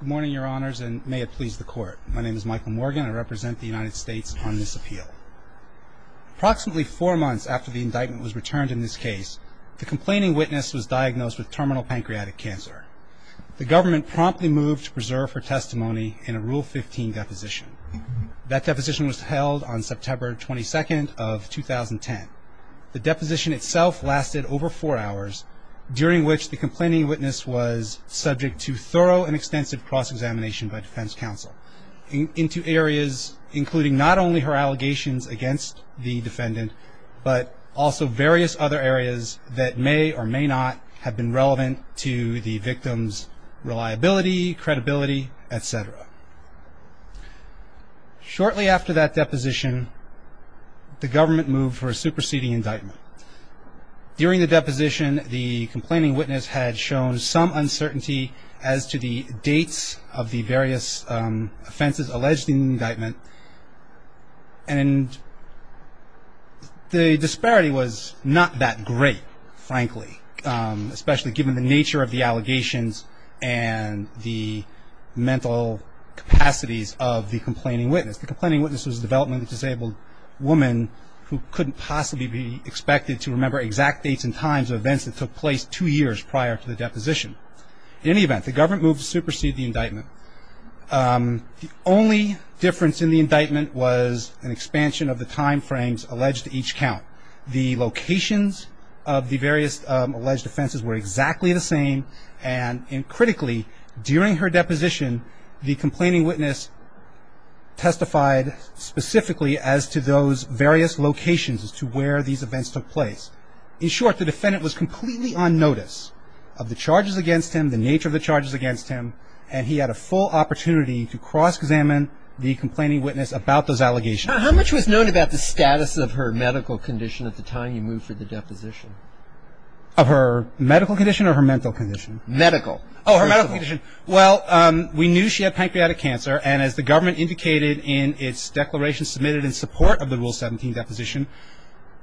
Good morning, your honors, and may it please the court. My name is Michael Morgan. I represent the United States on this appeal. Approximately four months after the indictment was returned in this case, the complaining witness was diagnosed with terminal pancreatic cancer. The government promptly moved to preserve her testimony in a Rule 15 deposition. That deposition was held on September 22nd of 2010. The deposition itself lasted over four hours, during which the complaining witness was subject to thorough and extensive cross-examination by defense counsel into areas including not only her allegations against the defendant, but also various other areas that may or may not have been relevant to the victim's reliability, credibility, etc. Shortly after that deposition, the government moved for a superseding indictment. During the deposition, the complaining witness had shown some uncertainty as to the dates of the various offenses alleged in the indictment, and the disparity was not that great, frankly, especially given the nature of the allegations and the mental capacities of the complaining witness. The complaining witness was a developmentally disabled woman who couldn't possibly be expected to remember exact dates and times of events that took place two years prior to the deposition. In any event, the government moved to supersede the indictment. The only difference in the indictment was an expansion of the timeframes alleged to each count. The locations of the various alleged offenses were exactly the same, and critically, during her deposition, the complaining witness testified specifically as to those various locations as to where these events took place. In short, the defendant was completely on notice of the charges against him, the nature of the charges against him, and he had a full opportunity to cross-examine the complaining witness about those allegations. How much was known about the status of her medical condition at the time you moved for the deposition? Of her medical condition or her mental condition? Medical. Oh, her medical condition. Well, we knew she had pancreatic cancer, and as the government indicated in its declaration submitted in support of the Rule 17 deposition,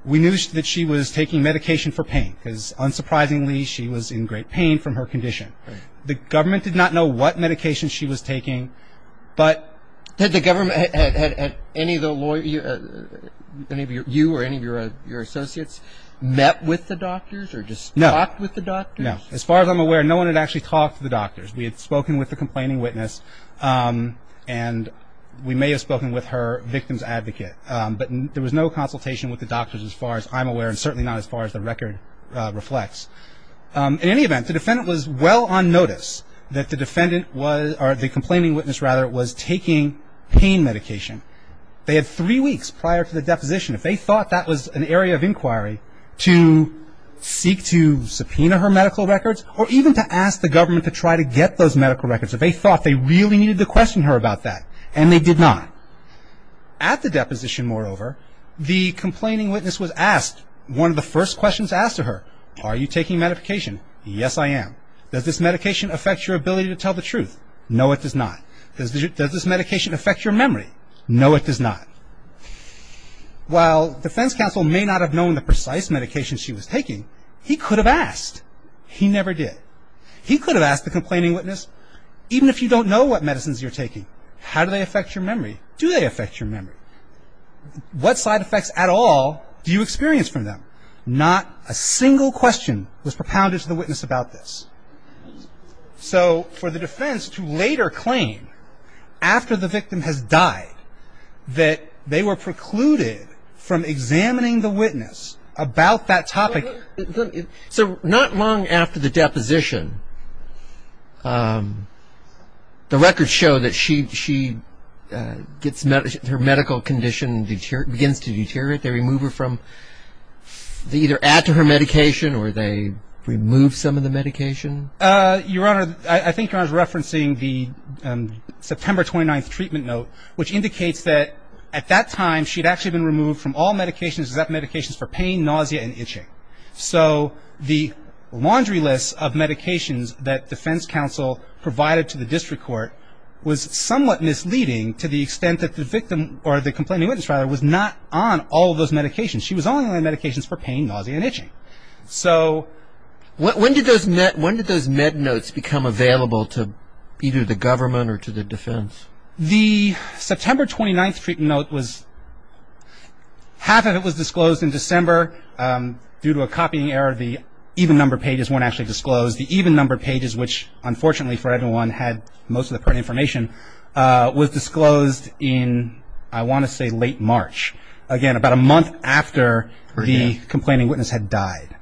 we knew that she was taking medication for pain because unsurprisingly, she was in great pain from her condition. The government did not know what medication she was taking, but the government had any of the lawyers, any of you or any of your associates met with the doctors or just talked with the doctors? No. As far as I'm aware, no one had actually talked to the doctors. We had spoken with the complaining witness, and we may have spoken with her victim's advocate, but there was no consultation with the doctors as far as I'm aware and certainly not as far as the record reflects. In any event, the defendant was well on notice that the complaining witness was taking pain medication. They had three weeks prior to the deposition. If they thought that was an area of inquiry to seek to subpoena her medical records or even to ask the government to try to get those medical records, if they thought they really needed to question her about that, and they did not. At the deposition, moreover, the complaining witness was asked one of the first questions asked to her, are you taking medication? Yes, I am. Does this medication affect your ability to tell the truth? No, it does not. Does this medication affect your memory? No, it does not. While defense counsel may not have known the precise medication she was taking, he could have asked. He never did. He could have asked the complaining witness, even if you don't know what medicines you're taking, how do they affect your memory? Do they affect your memory? What side effects at all do you experience from them? So, not a single question was propounded to the witness about this. So, for the defense to later claim, after the victim has died, that they were precluded from examining the witness about that topic. So, not long after the deposition, the records show that she gets her medical condition, begins to deteriorate, they remove her from, they either add to her medication or they remove some of the medication? Your Honor, I think Your Honor is referencing the September 29th treatment note, which indicates that at that time she had actually been removed from all medications, except medications for pain, nausea, and itching. So, the laundry list of medications that defense counsel provided to the district court was somewhat misleading to the extent that the victim, or the complaining witness rather, was not on all of those medications. She was only on medications for pain, nausea, and itching. So, when did those med notes become available to either the government or to the defense? The September 29th treatment note was, half of it was disclosed in December. Due to a copying error, the even number pages weren't actually disclosed. The even number pages, which unfortunately for everyone had most of the pertinent information, was disclosed in, I want to say, late March. Again, about a month after the complaining witness had died.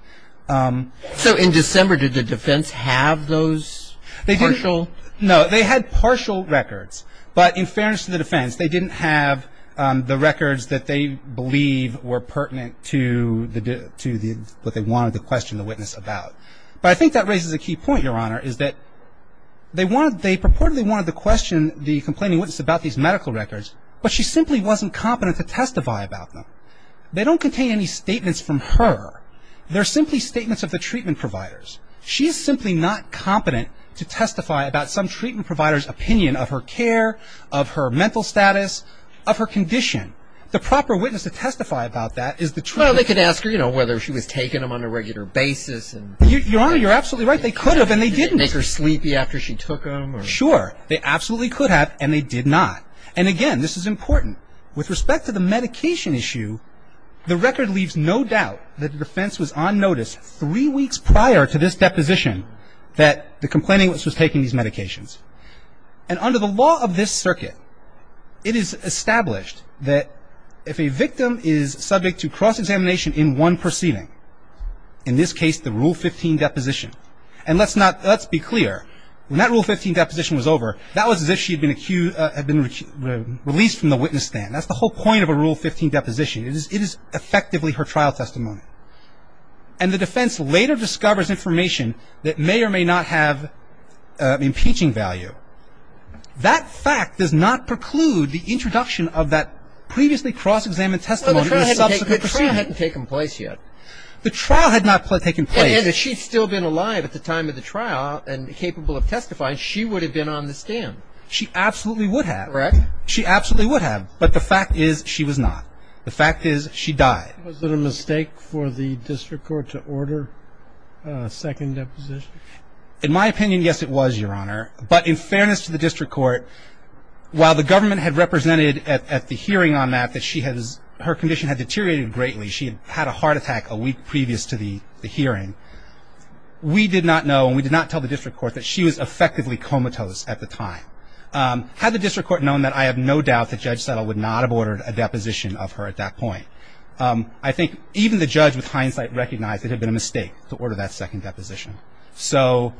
So, in December, did the defense have those partial? No, they had partial records, but in fairness to the defense, they didn't have the records that they believe were pertinent to what they wanted to question the witness about. But I think that raises a key point, Your Honor, is that they purportedly wanted to question the complaining witness about these medical records, but she simply wasn't competent to testify about them. They don't contain any statements from her. They're simply statements of the treatment providers. She is simply not competent to testify about some treatment provider's opinion of her care, of her mental status, of her condition. The proper witness to testify about that is the treatment provider. I could ask her, you know, whether she was taking them on a regular basis. Your Honor, you're absolutely right. They could have and they didn't. Did it make her sleepy after she took them? Sure. They absolutely could have and they did not. And again, this is important. With respect to the medication issue, the record leaves no doubt that the defense was on notice three weeks prior to this deposition that the complaining witness was taking these medications. And under the law of this circuit, it is established that if a victim is subject to cross-examination in one proceeding, in this case the Rule 15 deposition, and let's be clear, when that Rule 15 deposition was over, that was as if she had been released from the witness stand. That's the whole point of a Rule 15 deposition. It is effectively her trial testimony. And the defense later discovers information that may or may not have impeaching value. That fact does not preclude the introduction of that previously cross-examined testimony in a subsequent proceeding. The trial hadn't taken place yet. The trial had not taken place. If she had still been alive at the time of the trial and capable of testifying, she would have been on the stand. She absolutely would have. Correct. She absolutely would have. But the fact is she was not. The fact is she died. Was it a mistake for the district court to order a second deposition? In my opinion, yes, it was, Your Honor. But in fairness to the district court, while the government had represented at the hearing on that that her condition had deteriorated greatly, she had had a heart attack a week previous to the hearing. We did not know and we did not tell the district court that she was effectively comatose at the time. Had the district court known that, I have no doubt that Judge Settle would not have ordered a deposition of her at that point. I think even the judge with hindsight recognized it had been a mistake to order that second deposition. So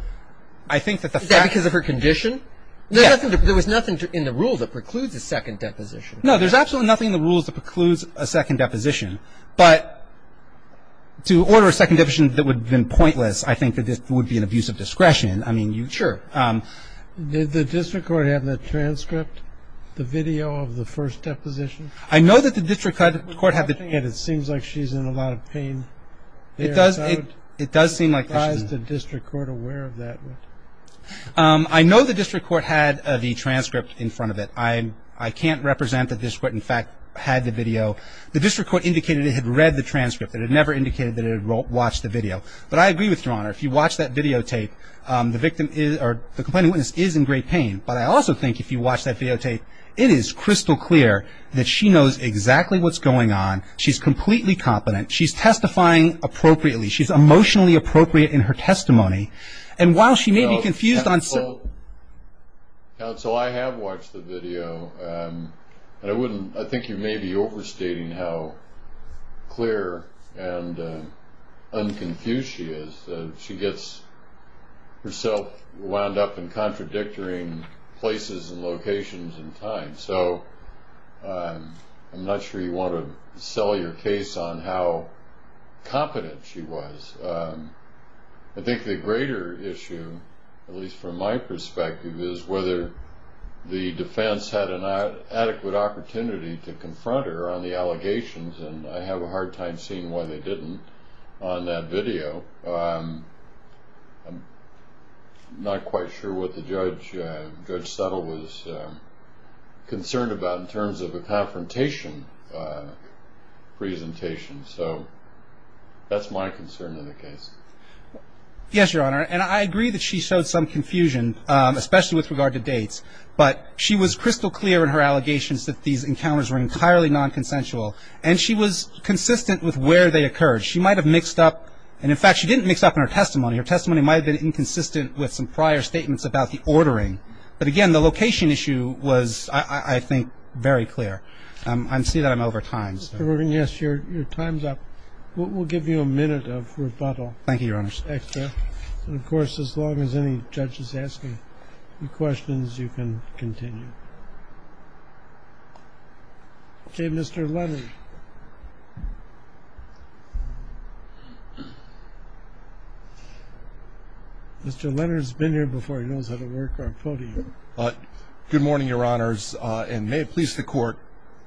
I think that the fact Is that because of her condition? Yes. There was nothing in the rule that precludes a second deposition. No, there's absolutely nothing in the rules that precludes a second deposition. But to order a second deposition that would have been pointless, I think that this would be an abuse of discretion. I mean, you Sure. Did the district court have the transcript, the video of the first deposition? I know that the district court had the video. It seems like she's in a lot of pain. It does seem like she's in a lot of pain. Is the district court aware of that? I know the district court had the transcript in front of it. I can't represent that the district court, in fact, had the video. The district court indicated it had read the transcript. It had never indicated that it had watched the video. But I agree with your Honor. If you watch that videotape, the complainant witness is in great pain. But I also think if you watch that videotape, it is crystal clear that she knows exactly what's going on. She's completely competent. She's testifying appropriately. She's emotionally appropriate in her testimony. And while she may be confused on some. Counsel, I have watched the video. And I think you may be overstating how clear and unconfused she is. She gets herself wound up in contradicting places and locations and time. So I'm not sure you want to sell your case on how competent she was. I think the greater issue, at least from my perspective, is whether the defense had an adequate opportunity to confront her on the allegations. And I have a hard time seeing why they didn't on that video. So I'm not quite sure what the Judge Settle was concerned about in terms of a confrontation presentation. So that's my concern in the case. Yes, Your Honor. And I agree that she showed some confusion, especially with regard to dates. But she was crystal clear in her allegations that these encounters were entirely nonconsensual. And she was consistent with where they occurred. She might have mixed up. And, in fact, she didn't mix up in her testimony. Her testimony might have been inconsistent with some prior statements about the ordering. But, again, the location issue was, I think, very clear. I see that I'm over time. Mr. Morgan, yes, your time's up. We'll give you a minute of rebuttal. Thank you, Your Honor. And, of course, as long as any judge is asking questions, you can continue. Okay, Mr. Leonard. Mr. Leonard's been here before. He knows how to work our podium. Good morning, Your Honors, and may it please the Court.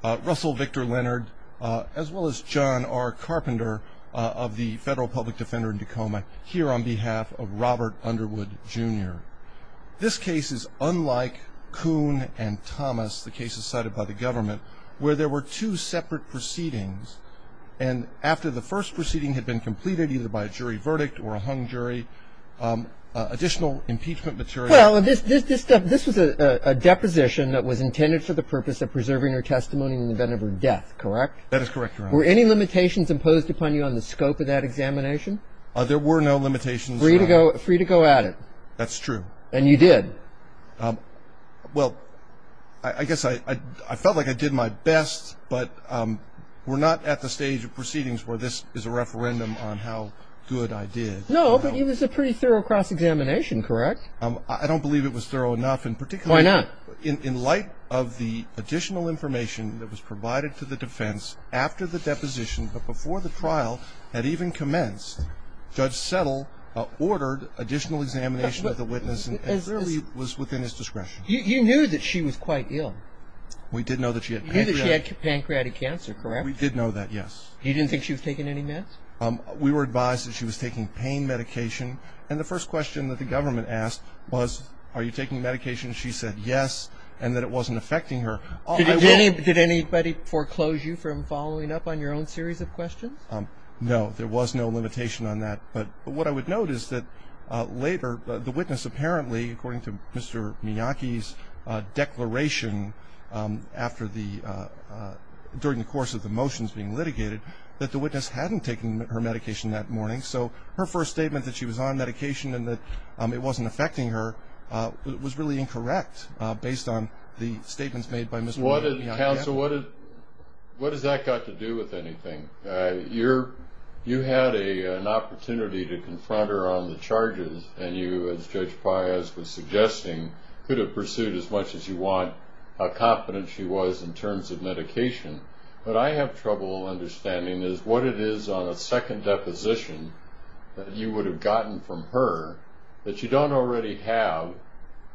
Russell Victor Leonard, as well as John R. Carpenter of the Federal Public Defender in Tacoma, here on behalf of Robert Underwood, Jr. This case is unlike Kuhn and Thomas, the cases cited by the government, where there were two separate proceedings. And after the first proceeding had been completed, either by a jury verdict or a hung jury, additional impeachment material. Well, this was a deposition that was intended for the purpose of preserving her testimony in the event of her death, correct? That is correct, Your Honor. Were any limitations imposed upon you on the scope of that examination? There were no limitations. Free to go at it. That's true. And you did? Well, I guess I felt like I did my best, but we're not at the stage of proceedings where this is a referendum on how good I did. No, but it was a pretty thorough cross-examination, correct? I don't believe it was thorough enough in particular. Why not? In light of the additional information that was provided to the defense after the deposition, but before the trial had even commenced, Judge Settle ordered additional examination of the witness and clearly was within his discretion. You knew that she was quite ill. We did know that she had pancreatic cancer, correct? We did know that, yes. You didn't think she was taking any meds? We were advised that she was taking pain medication, and the first question that the government asked was, are you taking medication? She said, yes, and that it wasn't affecting her. Did anybody foreclose you from following up on your own series of questions? No, there was no limitation on that, but what I would note is that later the witness apparently, according to Mr. Miyake's declaration during the course of the motions being litigated, that the witness hadn't taken her medication that morning, so her first statement that she was on medication and that it wasn't affecting her was really incorrect based on the statements made by Mr. Miyake. Counsel, what has that got to do with anything? You had an opportunity to confront her on the charges, and you, as Judge Paez was suggesting, could have pursued as much as you want how confident she was in terms of medication. What I have trouble understanding is what it is on a second deposition that you would have gotten from her that you don't already have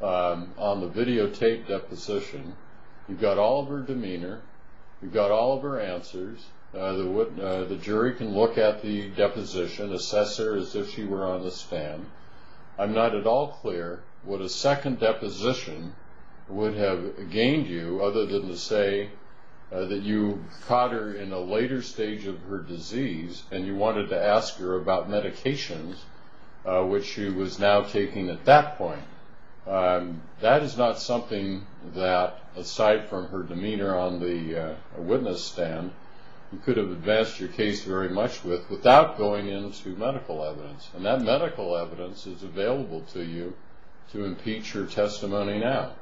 on the videotaped deposition. You've got all of her demeanor. You've got all of her answers. The jury can look at the deposition, assess her as if she were on the stand. I'm not at all clear what a second deposition would have gained you, other than to say that you caught her in a later stage of her disease and you wanted to ask her about medications, which she was now taking at that point. That is not something that, aside from her demeanor on the witness stand, you could have advanced your case very much with without going into medical evidence, and that medical evidence is available to you to impeach her testimony now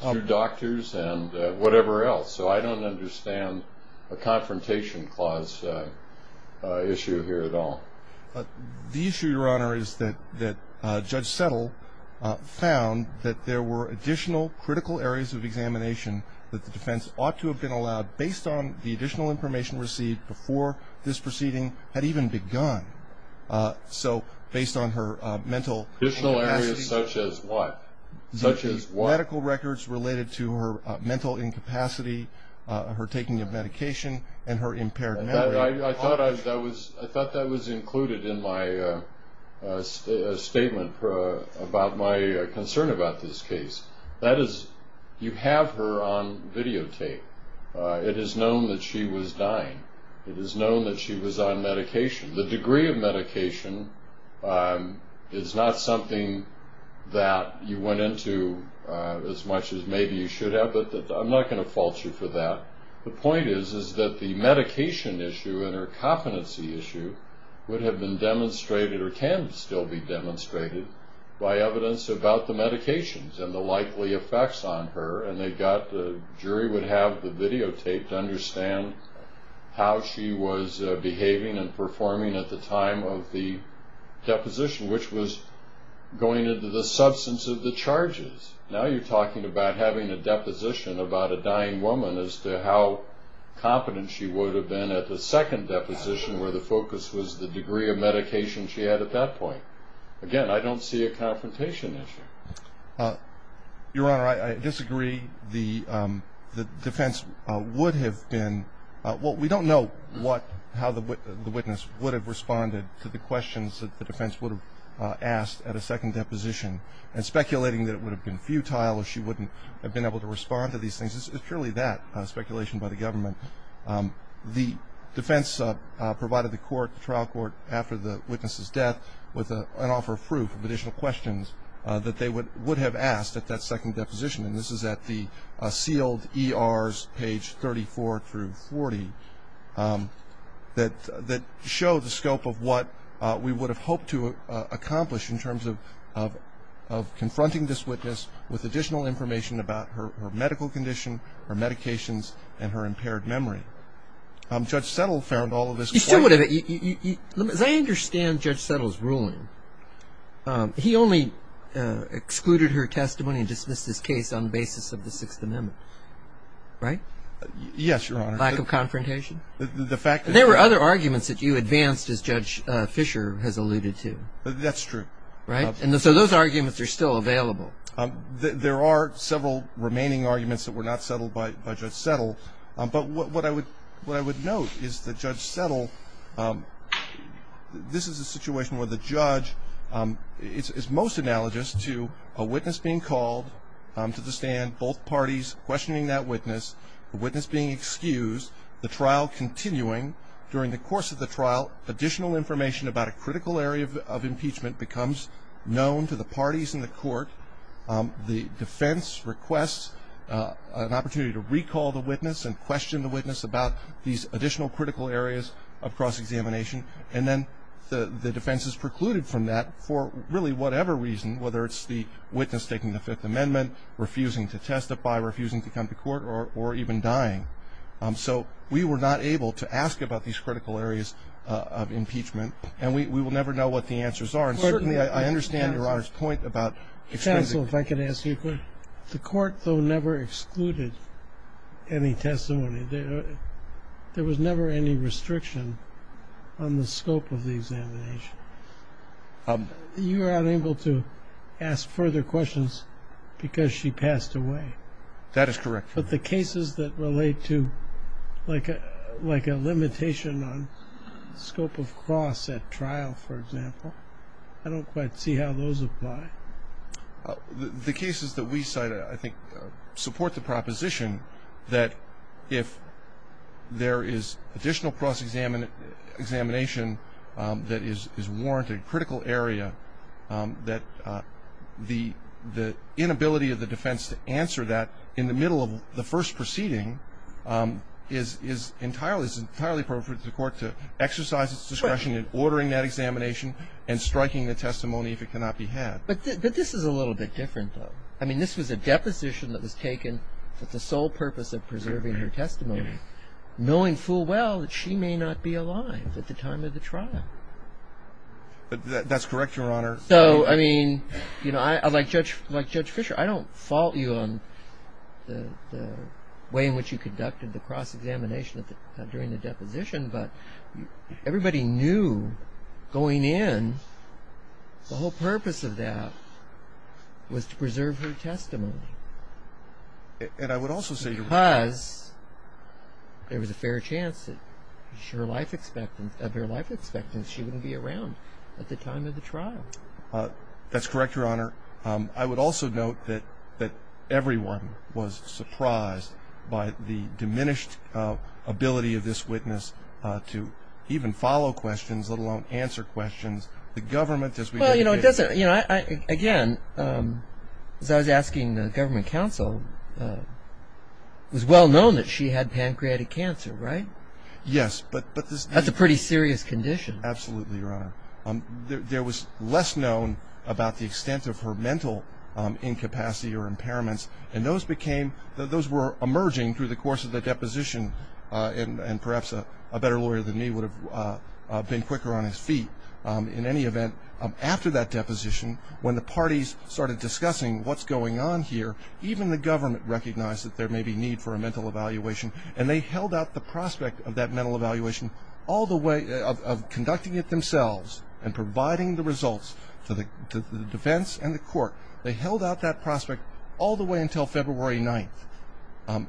through doctors and whatever else. So I don't understand a confrontation clause issue here at all. The issue, Your Honor, is that Judge Settle found that there were additional critical areas of examination that the defense ought to have been allowed based on the additional information received before this proceeding had even begun. So based on her mental incapacity. Additional areas such as what? Medical records related to her mental incapacity, her taking of medication, and her impaired memory. I thought that was included in my statement about my concern about this case. That is, you have her on videotape. It is known that she was dying. It is known that she was on medication. The degree of medication is not something that you went into as much as maybe you should have, but I'm not going to fault you for that. The point is that the medication issue and her competency issue would have been demonstrated or can still be demonstrated by evidence about the medications and the likely effects on her, and the jury would have the videotape to understand how she was behaving and performing at the time of the deposition, which was going into the substance of the charges. Now you're talking about having a deposition about a dying woman as to how competent she would have been at the second deposition where the focus was the degree of medication she had at that point. Again, I don't see a confrontation issue. Your Honor, I disagree. The defense would have been – well, we don't know how the witness would have responded to the questions that the defense would have asked at a second deposition and speculating that it would have been futile or she wouldn't have been able to respond to these things. It's purely that speculation by the government. The defense provided the trial court after the witness's death with an offer of proof of additional questions that they would have asked at that second deposition, and this is at the sealed ERs, page 34 through 40, that show the scope of what we would have hoped to accomplish in terms of confronting this witness with additional information about her medical condition, her medications, and her impaired memory. You still would have – as I understand Judge Settle's ruling, he only excluded her testimony and dismissed his case on the basis of the Sixth Amendment, right? Yes, Your Honor. Lack of confrontation? The fact is – There were other arguments that you advanced, as Judge Fisher has alluded to. That's true. Right? And so those arguments are still available. There are several remaining arguments that were not settled by Judge Settle, but what I would note is that Judge Settle – this is a situation where the judge is most analogous to a witness being called to the stand, both parties questioning that witness, the witness being excused, the trial continuing. During the course of the trial, additional information about a critical area of impeachment becomes known to the parties in the court. The defense requests an opportunity to recall the witness and question the witness about these additional critical areas of cross-examination, and then the defense is precluded from that for really whatever reason, whether it's the witness taking the Fifth Amendment, refusing to testify, refusing to come to court, or even dying. So we were not able to ask about these critical areas of impeachment, and we will never know what the answers are. And certainly I understand Your Honor's point about excusing. Counsel, if I could ask you a question. The court, though, never excluded any testimony. There was never any restriction on the scope of the examination. You were unable to ask further questions because she passed away. That is correct. But the cases that relate to like a limitation on scope of cross at trial, for example, I don't quite see how those apply. The cases that we cite I think support the proposition that if there is additional cross-examination that is warranted, critical area, that the inability of the defense to answer that in the middle of the first proceeding is entirely appropriate for the court to exercise its discretion in ordering that examination and striking the testimony if it cannot be had. But this is a little bit different, though. I mean, this was a deposition that was taken for the sole purpose of preserving her testimony, knowing full well that she may not be alive at the time of the trial. That's correct, Your Honor. So, I mean, like Judge Fischer, I don't fault you on the way in which you conducted the cross-examination during the deposition, but everybody knew going in the whole purpose of that was to preserve her testimony. Because there was a fair chance of her life expectancy that she wouldn't be around at the time of the trial. That's correct, Your Honor. I would also note that everyone was surprised by the diminished ability of this witness to even follow questions, let alone answer questions. Well, you know, again, as I was asking the government counsel, it was well known that she had pancreatic cancer, right? Yes. That's a pretty serious condition. Absolutely, Your Honor. There was less known about the extent of her mental incapacity or impairments, and those were emerging through the course of the deposition, and perhaps a better lawyer than me would have been quicker on his feet. In any event, after that deposition, when the parties started discussing what's going on here, even the government recognized that there may be need for a mental evaluation, and they held out the prospect of that mental evaluation all the way, of conducting it themselves and providing the results to the defense and the court. They held out that prospect all the way until February 9th.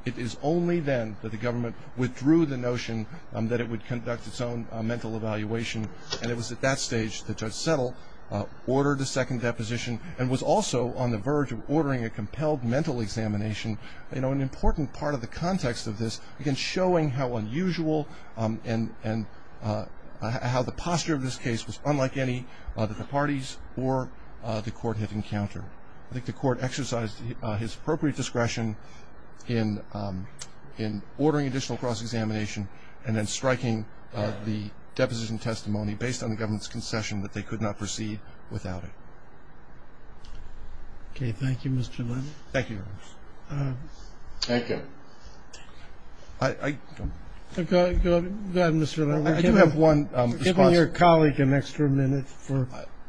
It is only then that the government withdrew the notion that it would conduct its own mental evaluation, and it was at that stage that Judge Settle ordered a second deposition and was also on the verge of ordering a compelled mental examination. You know, an important part of the context of this, again, showing how unusual and how the posture of this case was unlike any that the parties or the court had encountered. I think the court exercised his appropriate discretion in ordering additional cross-examination and then striking the deposition testimony based on the government's concession that they could not proceed without it. Okay, thank you, Mr. Lennon. Thank you, Your Honors. Thank you. Go ahead, Mr. Lennon. I do have one response. Give your colleague an extra minute.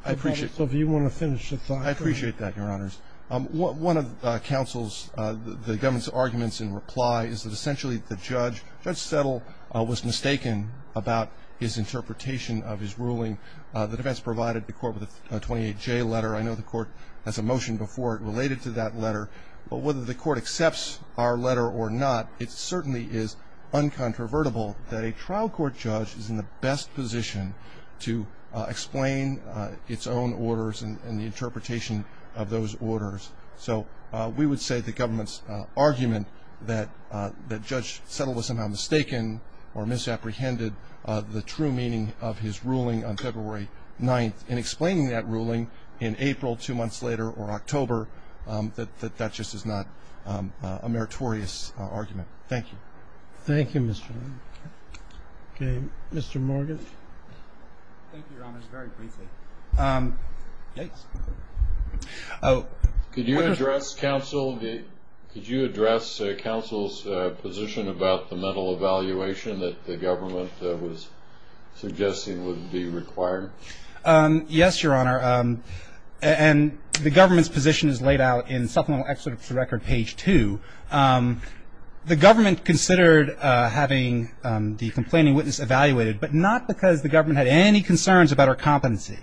I appreciate that. I appreciate that, Your Honors. One of the government's arguments in reply is that essentially the judge, Judge Settle, was mistaken about his interpretation of his ruling. The defense provided the court with a 28-J letter. I know the court has a motion before it related to that letter, but whether the court accepts our letter or not, it certainly is uncontrovertible that a trial court judge is in the best position to explain its own orders and the interpretation of those orders. So we would say the government's argument that Judge Settle was somehow mistaken or misapprehended the true meaning of his ruling on February 9th in explaining that ruling in April two months later or October, that that just is not a meritorious argument. Thank you. Thank you, Mr. Lennon. Okay, Mr. Morgan. Thank you, Your Honors. Very briefly. Could you address counsel's position about the mental evaluation that the government was suggesting would be required? Yes, Your Honor. And the government's position is laid out in Supplemental Excerpt for Record, page two. The government considered having the complaining witness evaluated, but not because the government had any concerns about her competency.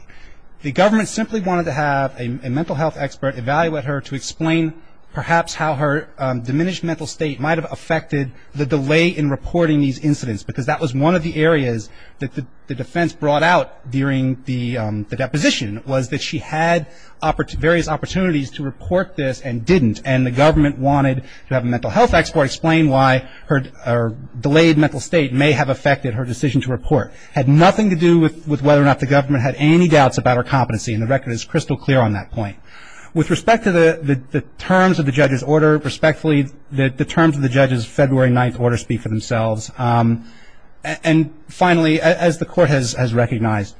The government simply wanted to have a mental health expert evaluate her to explain perhaps how her diminished mental state might have affected the delay in reporting these incidents, because that was one of the areas that the defense brought out during the deposition, was that she had various opportunities to report this and didn't, and the government wanted to have a mental health expert explain why her delayed mental state may have affected her decision to report. It had nothing to do with whether or not the government had any doubts about her competency, and the record is crystal clear on that point. With respect to the terms of the judge's order, respectfully, the terms of the judge's February 9th order speak for themselves. And finally, as the court has recognized,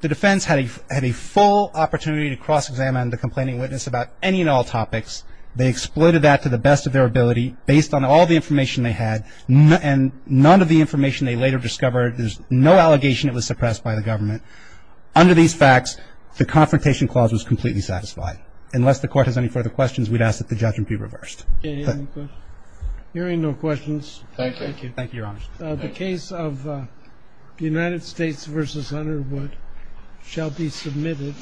the defense had a full opportunity to cross-examine the complaining witness about any and all topics. They exploited that to the best of their ability, based on all the information they had, and none of the information they later discovered, there's no allegation it was suppressed by the government. Under these facts, the confrontation clause was completely satisfied. Unless the court has any further questions, we'd ask that the judgment be reversed. Any other questions? Hearing no questions. Thank you. Thank you, Your Honor. The case of United States v. Underwood shall be submitted.